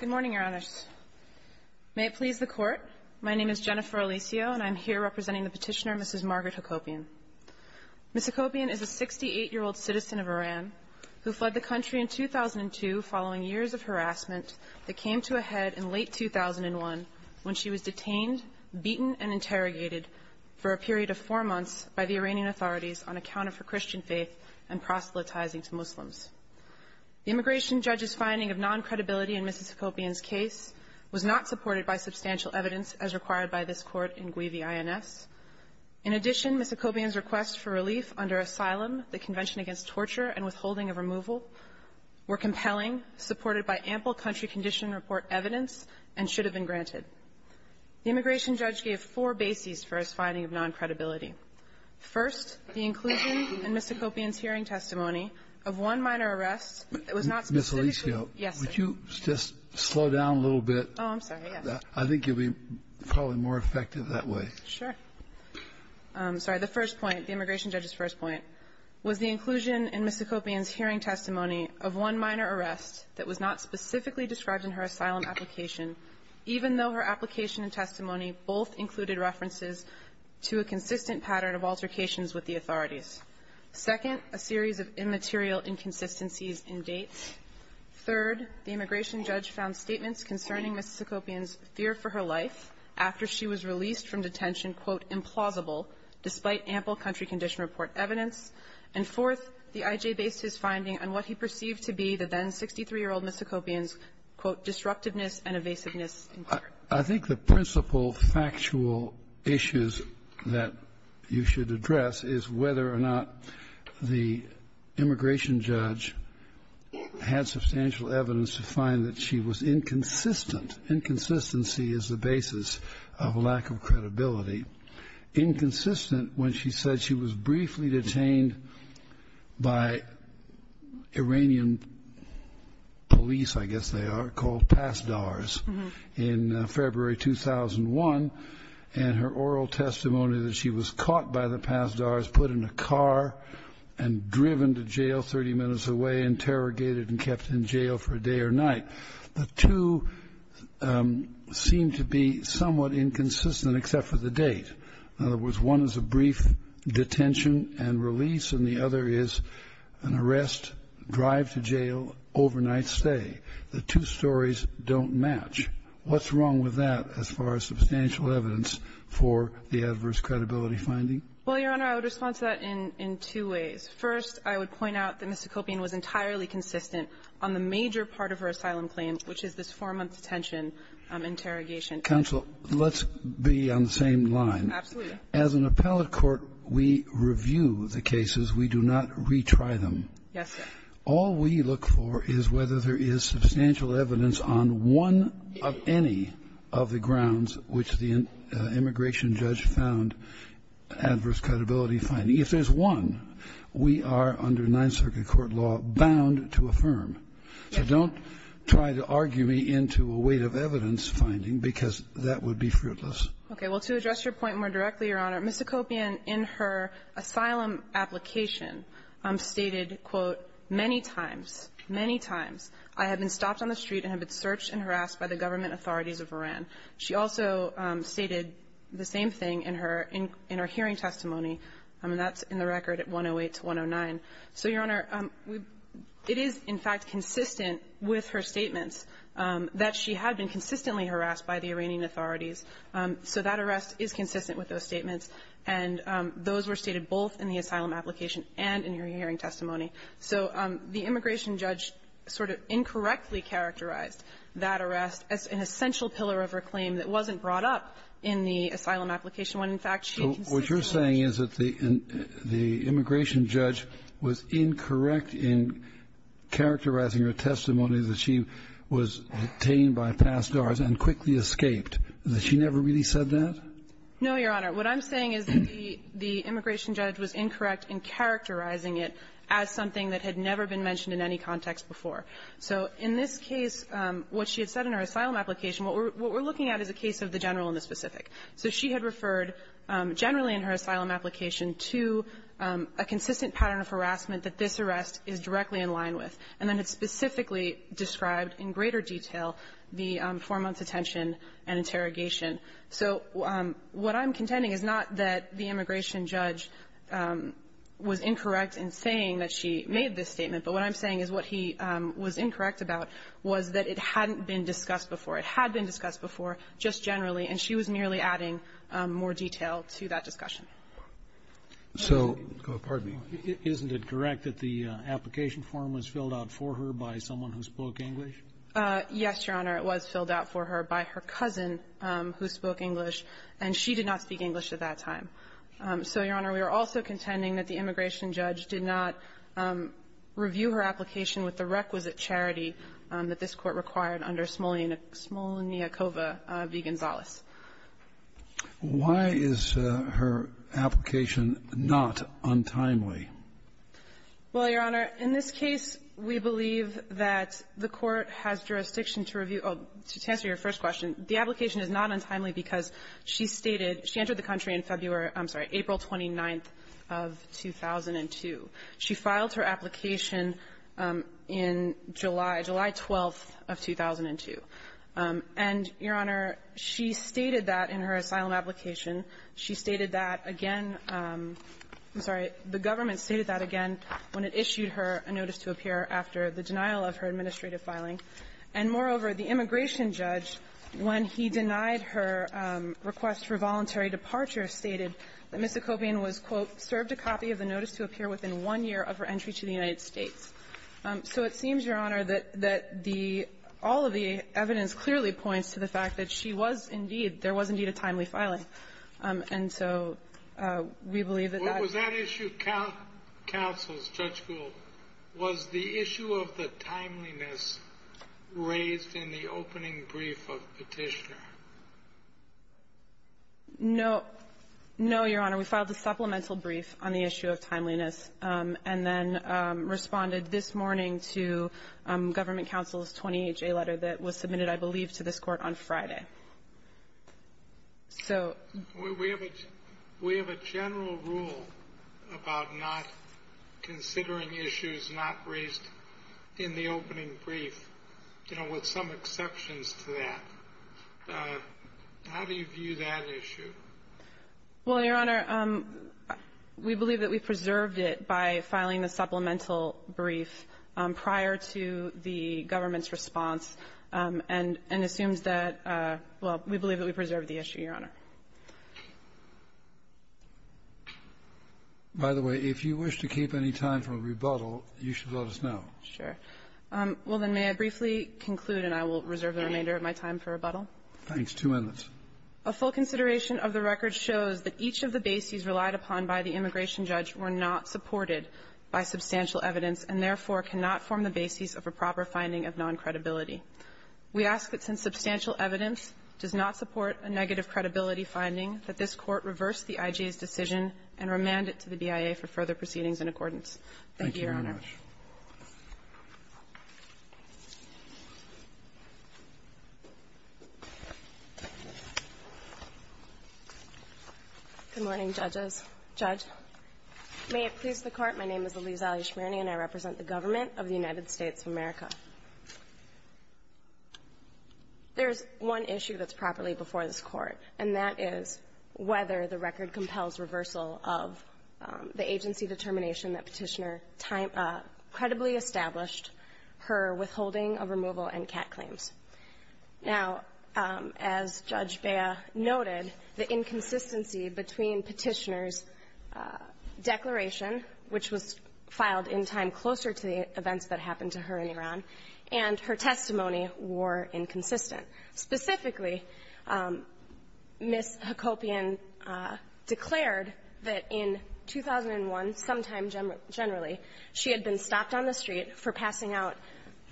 Good morning, Your Honors. May it please the Court, my name is Jennifer Alisio and I'm here representing the petitioner, Mrs. Margaret Hakopian. Mrs. Hakopian is a 68-year-old citizen of Iran who fled the country in 2002 following years of harassment that came to a head in late 2001 when she was detained, beaten, and interrogated for a period of four months by the Iranian authorities on account of her Christian faith and proselytizing to Muslims. The immigration judge's finding of non-credibility in Mrs. Hakopian's case was not supported by substantial evidence as required by this Court in Guivi I.N.S. In addition, Mrs. Hakopian's request for relief under asylum, the Convention Against Torture, and withholding of removal were compelling, supported by ample country condition report evidence, and should have been granted. The immigration judge gave four bases for his finding of non-credibility. First, the inclusion in Mrs. Hakopian's hearing testimony of one minor arrest that was not specifically Mrs. Alisio, would you just slow down a little bit? Oh, I'm sorry, yes. I think you'll be probably more effective that way. Sure. Sorry. The first point, the immigration judge's first point, was the inclusion in Mrs. Hakopian's hearing testimony of one minor arrest that was not specifically described in her asylum application, even though her application and testimony both included references to a consistent pattern of altercations with the authorities. Second, a series of immaterial inconsistencies in dates. Third, the immigration judge found statements concerning Mrs. Hakopian's fear for her life after she was released from detention, quote, implausible, despite ample country condition report evidence. And fourth, the I.J. based his finding on what he perceived to be the then 63-year-old Mrs. Hakopian's, quote, disruptiveness and evasiveness in her career. I think the principal factual issues that you should address is whether or not the immigration judge had substantial evidence to find that she was inconsistent. Inconsistency is the basis of lack of credibility. Inconsistent when she said she was briefly detained by Iranian police, I guess they are, called Pasdars in February 2001, and her oral testimony that she was caught by the Pasdars, put in a car and driven to jail 30 minutes away, interrogated and kept in jail for a day or night. The two seem to be somewhat inconsistent except for the date. In other words, one is a brief detention and release, and the other is an arrest, drive to jail, overnight stay. The two stories don't match. What's wrong with that as far as substantial evidence for the adverse credibility finding? Well, Your Honor, I would respond to that in two ways. First, I would point out that Mrs. Hakopian was entirely consistent on the major part of her asylum claim, which is this four-month detention interrogation. Kennedy. Counsel, let's be on the same line. Absolutely. As an appellate court, we review the cases. We do not retry them. Yes, sir. All we look for is whether there is substantial evidence on one of any of the grounds which the immigration judge found adverse credibility finding. If there's one, we are, under Ninth Circuit court law, bound to affirm. So don't try to argue me into a weight of evidence finding, because that would be fruitless. Okay. Well, to address your point more directly, Your Honor, Mrs. Hakopian, in her asylum application, stated, quote, many times, many times, I have been stopped on the street and have been searched and harassed by the government authorities of Iran. She also stated the same thing in her hearing testimony, and that's in the record at 108 to 109. So, Your Honor, it is, in fact, consistent with her statements that she had been consistently harassed by the Iranian authorities. So that arrest is consistent with those statements, and those were stated both in the asylum application and in her hearing testimony. So the immigration judge sort of incorrectly characterized that arrest as an essential pillar of her claim that wasn't brought up in the asylum application, when, in fact, she had consistently harassed her. So she was incorrect in characterizing her testimony that she was detained by pass guards and quickly escaped. Has she never really said that? No, Your Honor. What I'm saying is that the immigration judge was incorrect in characterizing it as something that had never been mentioned in any context before. So in this case, what she had said in her asylum application, what we're looking at is a case of the general and the specific. So she had referred generally in her asylum application to a consistent pattern of harassment that this arrest is directly in line with, and then had specifically described in greater detail the four-month detention and interrogation. So what I'm contending is not that the immigration judge was incorrect in saying that she made this statement, but what I'm saying is what he was incorrect about was that it hadn't been discussed before. It had been discussed before, just generally, and she was merely adding more detail to that discussion. So go ahead. Pardon me. Isn't it correct that the application form was filled out for her by someone who spoke English? Yes, Your Honor. It was filled out for her by her cousin who spoke English, and she did not speak English at that time. So, Your Honor, we are also contending that the immigration judge did not review her application with the requisite charity that this Court required under Smolniakova v. Gonzales. Why is her application not untimely? Well, Your Honor, in this case, we believe that the Court has jurisdiction to review or to answer your first question. The application is not untimely because she stated she entered the country in February or, I'm sorry, April 29th of 2002. She filed her application in July, July 12th of 2002. And, Your Honor, she stated that in her asylum application. She stated that again – I'm sorry. The government stated that again when it issued her a notice to appear after the denial of her administrative filing. And moreover, the immigration judge, when he denied her request for voluntary departure, stated that Ms. Ecopian was, quote, served a copy of the notice to appear within one year of her entry to the United States. So it seems, Your Honor, that the – all of the evidence clearly points to the fact that she was indeed – there was indeed a timely filing. And so we believe that that – What was that issue counsels, Judge Gould? Was the issue of the timeliness raised in the opening brief of Petitioner? No. No, Your Honor. We filed a supplemental brief on the issue of timeliness and then responded this morning to government counsel's 28-J letter that was submitted, I believe, to this Court on Friday. So – We have a general rule about not considering issues not raised in the opening brief, you know, with some exceptions to that. How do you view that issue? Well, Your Honor, we believe that we preserved it by filing the supplemental brief prior to the government's response and assumes that – well, we believe that we preserved the issue, Your Honor. By the way, if you wish to keep any time for rebuttal, you should let us know. Sure. Well, then, may I briefly conclude, and I will reserve the remainder of my time for rebuttal? Thanks. Two minutes. A full consideration of the record shows that each of the bases relied upon by the immigration judge were not supported by substantial evidence and, therefore, cannot form the basis of a proper finding of noncredibility. We ask that since substantial evidence does not support a negative credibility finding, that this Court reverse the IJA's decision and remand it to the BIA for further Thank you, Your Honor. Thank you very much. Good morning, judges. Judge, may it please the Court, my name is Elise Alley-Schmierny, and I represent the government of the United States of America. There's one issue that's properly before this Court, and that is whether the record credibly established her withholding of removal and CAT claims. Now, as Judge Bea noted, the inconsistency between Petitioner's declaration, which was filed in time closer to the events that happened to her in Iran, and her testimony were inconsistent. Specifically, Ms. Hakobian declared that in 2001, sometime generally, she had been stopped on the street for passing out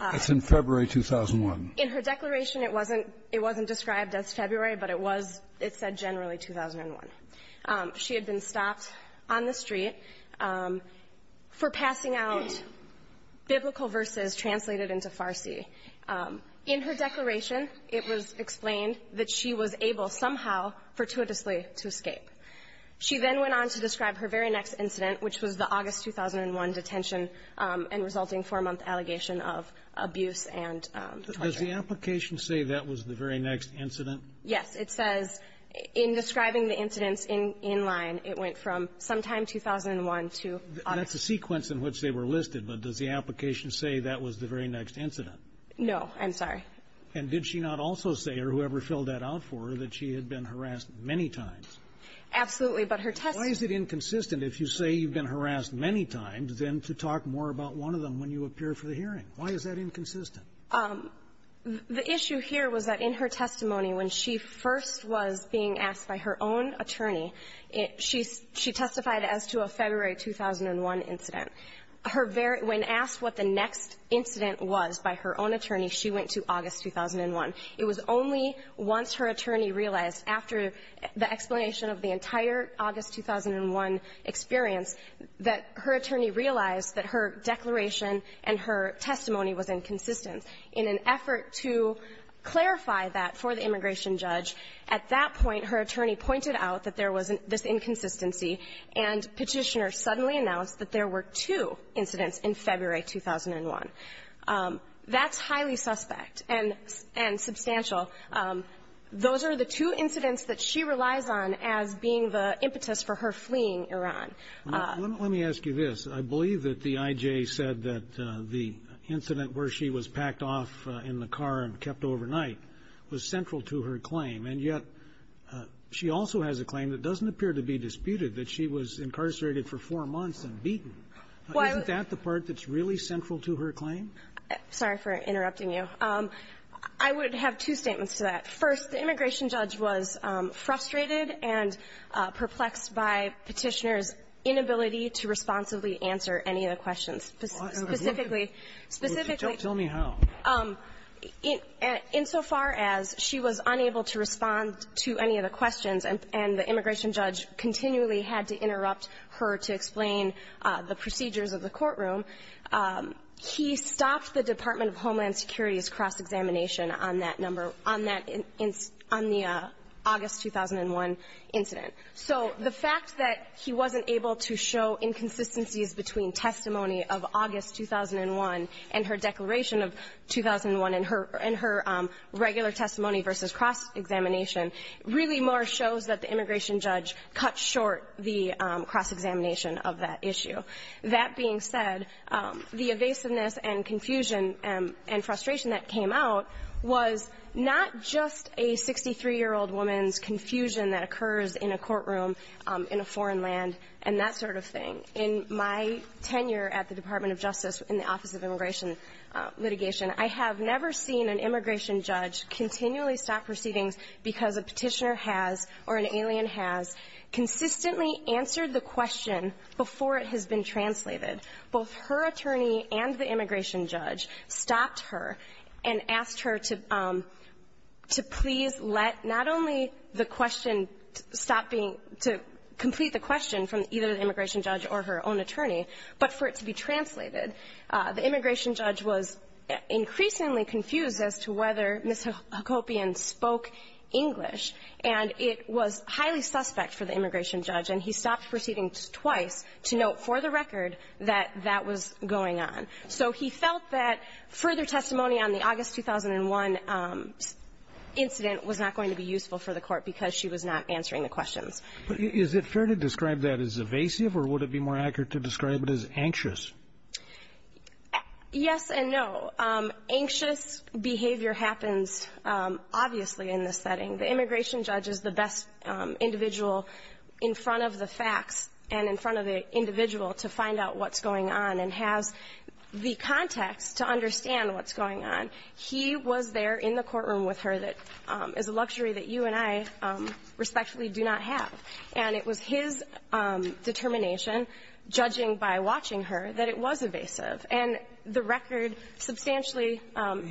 of her declaration. It wasn't described as February, but it was, it said, generally 2001. She had been stopped on the street for passing out biblical verses translated into Farsi. In her declaration, it was explained that she was able, somehow, fortuitously to escape. She then went on to describe her very next incident, which was the August 2001 detention and resulting four-month allegation of abuse and torture. Does the application say that was the very next incident? Yes. It says, in describing the incidents in line, it went from sometime 2001 to August 2001. That's a sequence in which they were listed, but does the application say that was the very next incident? No. I'm sorry. And did she not also say, or whoever filled that out for her, that she had been harassed many times? Absolutely. But her testimony was inconsistent. If you say you've been harassed many times, then to talk more about one of them when you appear for the hearing. Why is that inconsistent? The issue here was that in her testimony, when she first was being asked by her own attorney, she testified as to a February 2001 incident. Her very — when asked what the next incident was by her own attorney, she went to August 2001. It was only once her attorney realized, after the explanation of the entire August 2001 experience, that her attorney realized that her declaration and her testimony was inconsistent. In an effort to clarify that for the immigration judge, at that point, her attorney pointed out that there was this inconsistency, and Petitioner suddenly announced that there were two incidents in February 2001. That's highly suspect and substantial. Those are the two incidents that she relies on as being the impetus for her fleeing Iran. Let me ask you this. I believe that the I.J. said that the incident where she was packed off in the car and kept overnight was central to her claim. And yet, she also has a claim that doesn't appear to be disputed, that she was incarcerated for four months and beaten. Isn't that the part that's really central to her claim? Sorry for interrupting you. I would have two statements to that. First, the immigration judge was frustrated and perplexed by Petitioner's inability to responsibly answer any of the questions. Specifically, specifically to tell me how, insofar as she was unable to respond to any of the questions, and the immigration judge continually had to interrupt her to explain the procedures of the courtroom, he stopped the Department of Homeland Security's cross-examination on that number, on the August 2001 incident. So the fact that he wasn't able to show inconsistencies between testimony of August 2001 and her declaration of 2001 in her regular testimony versus cross-examination really more shows that the immigration judge cut short the cross-examination of that issue. That being said, the evasiveness and confusion and frustration that came out was not just a 63-year-old woman's confusion that occurs in a courtroom in a foreign land and that sort of thing. In my tenure at the Department of Justice in the Office of Immigration Litigation, I have never seen an immigration judge continually stop proceedings because a petitioner has, or an alien has, consistently answered the question before it has been translated. Both her attorney and the immigration judge stopped her and asked her to please let not only the question stop being to complete the question from either the immigration judge or her own attorney, but for it to be translated. The immigration judge was increasingly confused as to whether Ms. Hacopian spoke English, and it was highly suspect for the immigration judge. And he stopped proceedings twice to note for the record that that was going on. So he felt that further testimony on the August 2001 incident was not going to be useful for the court because she was not answering the questions. But is it fair to describe that as evasive, or would it be more accurate to describe it as anxious? Yes and no. Anxious behavior happens obviously in this setting. The immigration judge is the best individual in front of the facts and in front of the individual to find out what's going on and has the context to understand what's going on. He was there in the courtroom with her that is a luxury that you and I respectfully do not have. And it was his determination, judging by watching her, that it was evasive. And the record substantially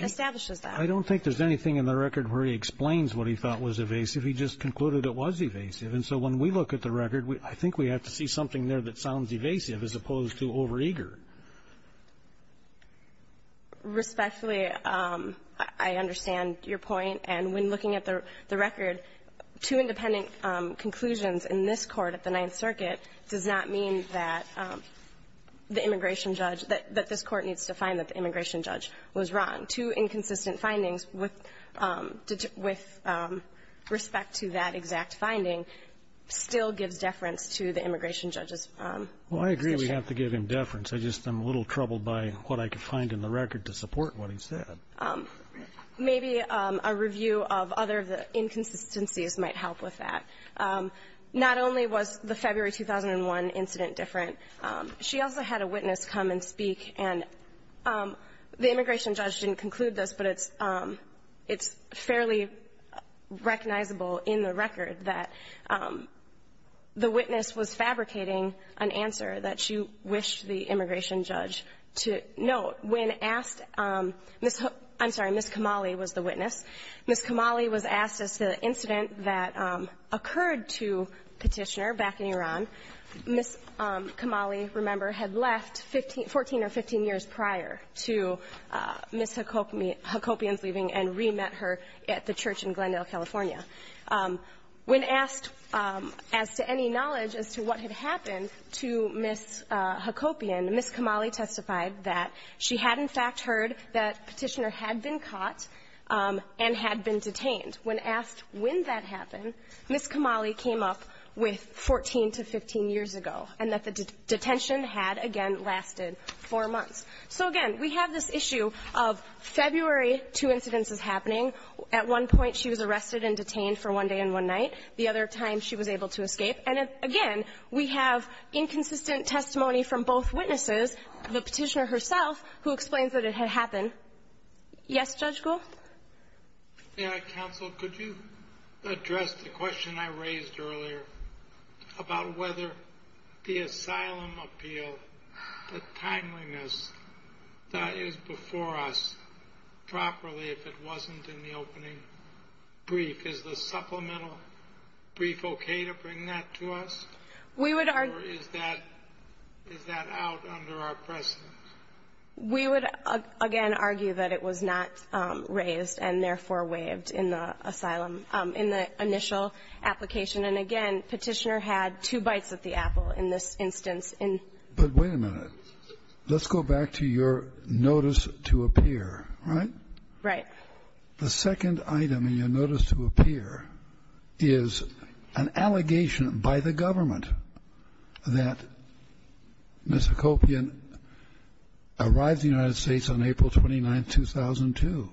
establishes that. I don't think there's anything in the record where he explains what he thought was evasive. He just concluded it was evasive. And so when we look at the record, I think we have to see something there that sounds evasive as opposed to overeager. Respectfully, I understand your point. And when looking at the record, two independent conclusions in this court at the Ninth Circuit does not mean that the immigration judge, that this court needs to find that the immigration judge was wrong. Two inconsistent findings with respect to that exact finding still gives deference to the immigration judge's position. Well, I agree we have to give him deference. I just am a little troubled by what I could find in the record to support what he said. Maybe a review of other of the inconsistencies might help with that. Not only was the February 2001 incident different, she also had a witness come and speak. And the immigration judge didn't conclude this, but it's fairly recognizable in the record that the witness was fabricating an answer that she wished the immigration judge to note. When asked, I'm sorry, Ms. Kamali was the witness. Ms. Kamali was asked as to the incident that occurred to Petitioner back in Iran. Ms. Kamali, remember, had left 14 or 15 years prior to Ms. Hakopian's leaving and re-met her at the church in Glendale, California. When asked as to any knowledge as to what had happened to Ms. Hakopian, Ms. Kamali testified that she had, in fact, heard that Petitioner had been caught. And had been detained. When asked when that happened, Ms. Kamali came up with 14 to 15 years ago. And that the detention had, again, lasted four months. So again, we have this issue of February, two incidents is happening. At one point, she was arrested and detained for one day and one night. The other time, she was able to escape. And again, we have inconsistent testimony from both witnesses. The Petitioner herself, who explains that it had happened. Yes, Judge Gould? Yeah, counsel, could you address the question I raised earlier about whether the asylum appeal, the timeliness, that is before us properly if it wasn't in the opening brief. Is the supplemental brief okay to bring that to us? We would- Or is that, is that out under our presence? We would, again, argue that it was not raised and therefore waived in the asylum, in the initial application. And again, Petitioner had two bites at the apple in this instance in- But wait a minute. Let's go back to your notice to appear, right? Right. The second item in your notice to appear is an allegation by the government that Ms. Hacopian arrived in the United States on April 29th, 2002.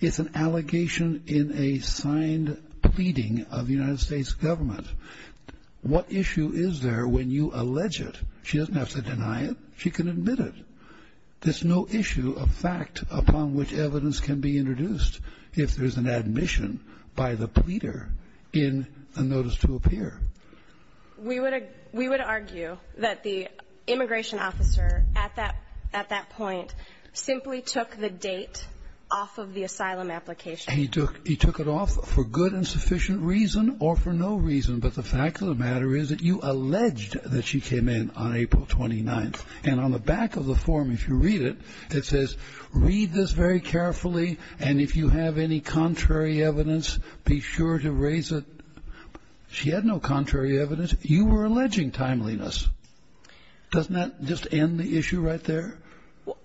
It's an allegation in a signed pleading of the United States government. What issue is there when you allege it? She doesn't have to deny it. She can admit it. There's no issue of fact upon which evidence can be introduced if there's an admission by the pleader in the notice to appear. We would, we would argue that the immigration officer at that, at that point simply took the date off of the asylum application. He took, he took it off for good and sufficient reason or for no reason. But the fact of the matter is that you alleged that she came in on April 29th. And on the back of the form, if you read it, it says, read this very carefully. And if you have any contrary evidence, be sure to raise it. She had no contrary evidence. You were alleging timeliness. Doesn't that just end the issue right there?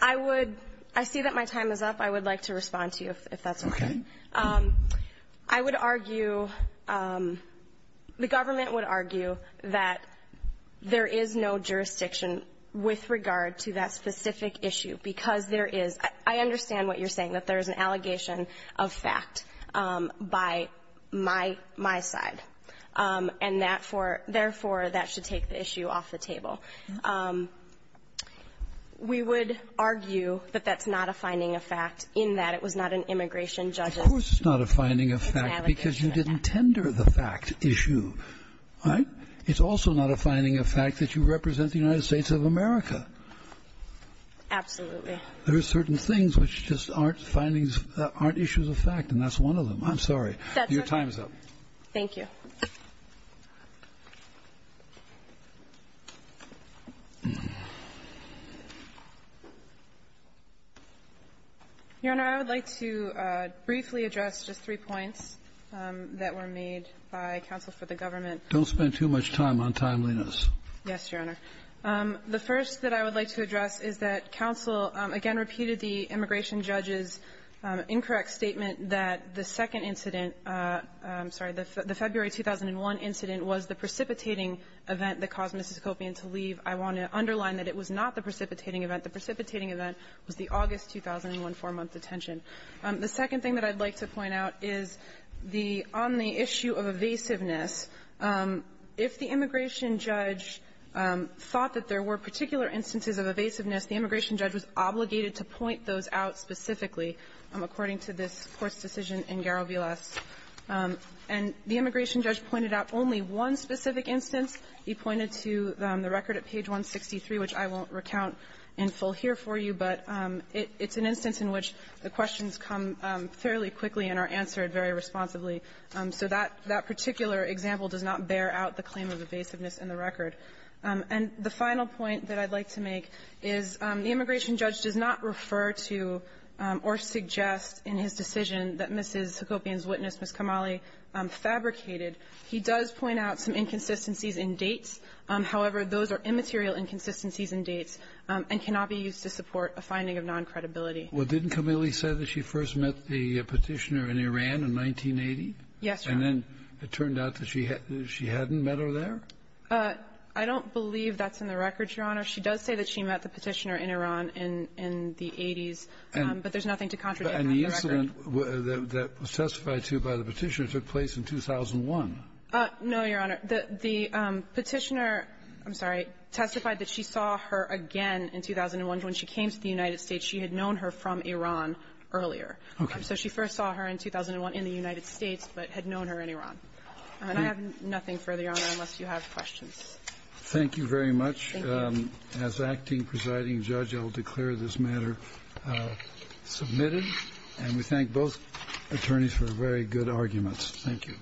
I would, I see that my time is up. I would like to respond to you, if that's okay. Okay. I would argue, the government would argue that there is no jurisdiction with regard to that specific issue. Because there is, I understand what you're saying. That there is an allegation of fact by my, my side. And that for, therefore, that should take the issue off the table. We would argue that that's not a finding of fact, in that it was not an immigration judge's- Of course it's not a finding of fact because you didn't tender the fact issue. It's also not a finding of fact that you represent the United States of America. Absolutely. There are certain things which just aren't findings, aren't issues of fact. And that's one of them. I'm sorry. Your time is up. Thank you. Your Honor, I would like to briefly address just three points that were made by counsel for the government. Don't spend too much time on timeliness. Yes, Your Honor. The first that I would like to address is that counsel, again, repeated the immigration judge's incorrect statement that the second incident, I'm sorry, the February 2001 incident was the precipitating event that caused Mississippi to leave. I want to underline that it was not the precipitating event. The precipitating event was the August 2001 four-month detention. The second thing that I'd like to point out is the omni issue of evasiveness. If the immigration judge thought that there were particular instances of evasiveness, the immigration judge was obligated to point those out specifically, according to this Court's decision in Garovilles. And the immigration judge pointed out only one specific instance. He pointed to the record at page 163, which I won't recount in full here for you, but it's an instance in which the questions come fairly quickly and are answered very responsibly. So that particular example does not bear out the claim of evasiveness in the record. And the final point that I'd like to make is the immigration judge does not refer to or suggest in his decision that Mrs. Hakobian's witness, Ms. Kamali, fabricated. He does point out some inconsistencies in dates. However, those are immaterial inconsistencies in dates and cannot be used to support a finding of noncredibility. Well, didn't Kamali say that she first met the Petitioner in Iran in 1980? Yes, Your Honor. And then it turned out that she hadn't met her there? I don't believe that's in the record, Your Honor. She does say that she met the Petitioner in Iran in the 80s, but there's nothing to contradict that in the record. And the incident that was testified to by the Petitioner took place in 2001. No, Your Honor. The Petitioner – I'm sorry – testified that she saw her again in 2001. And when she came to the United States, she had known her from Iran earlier. Okay. So she first saw her in 2001 in the United States, but had known her in Iran. And I have nothing further, Your Honor, unless you have questions. Thank you very much. Thank you. As acting presiding judge, I'll declare this matter submitted. And we thank both attorneys for very good arguments. Thank you.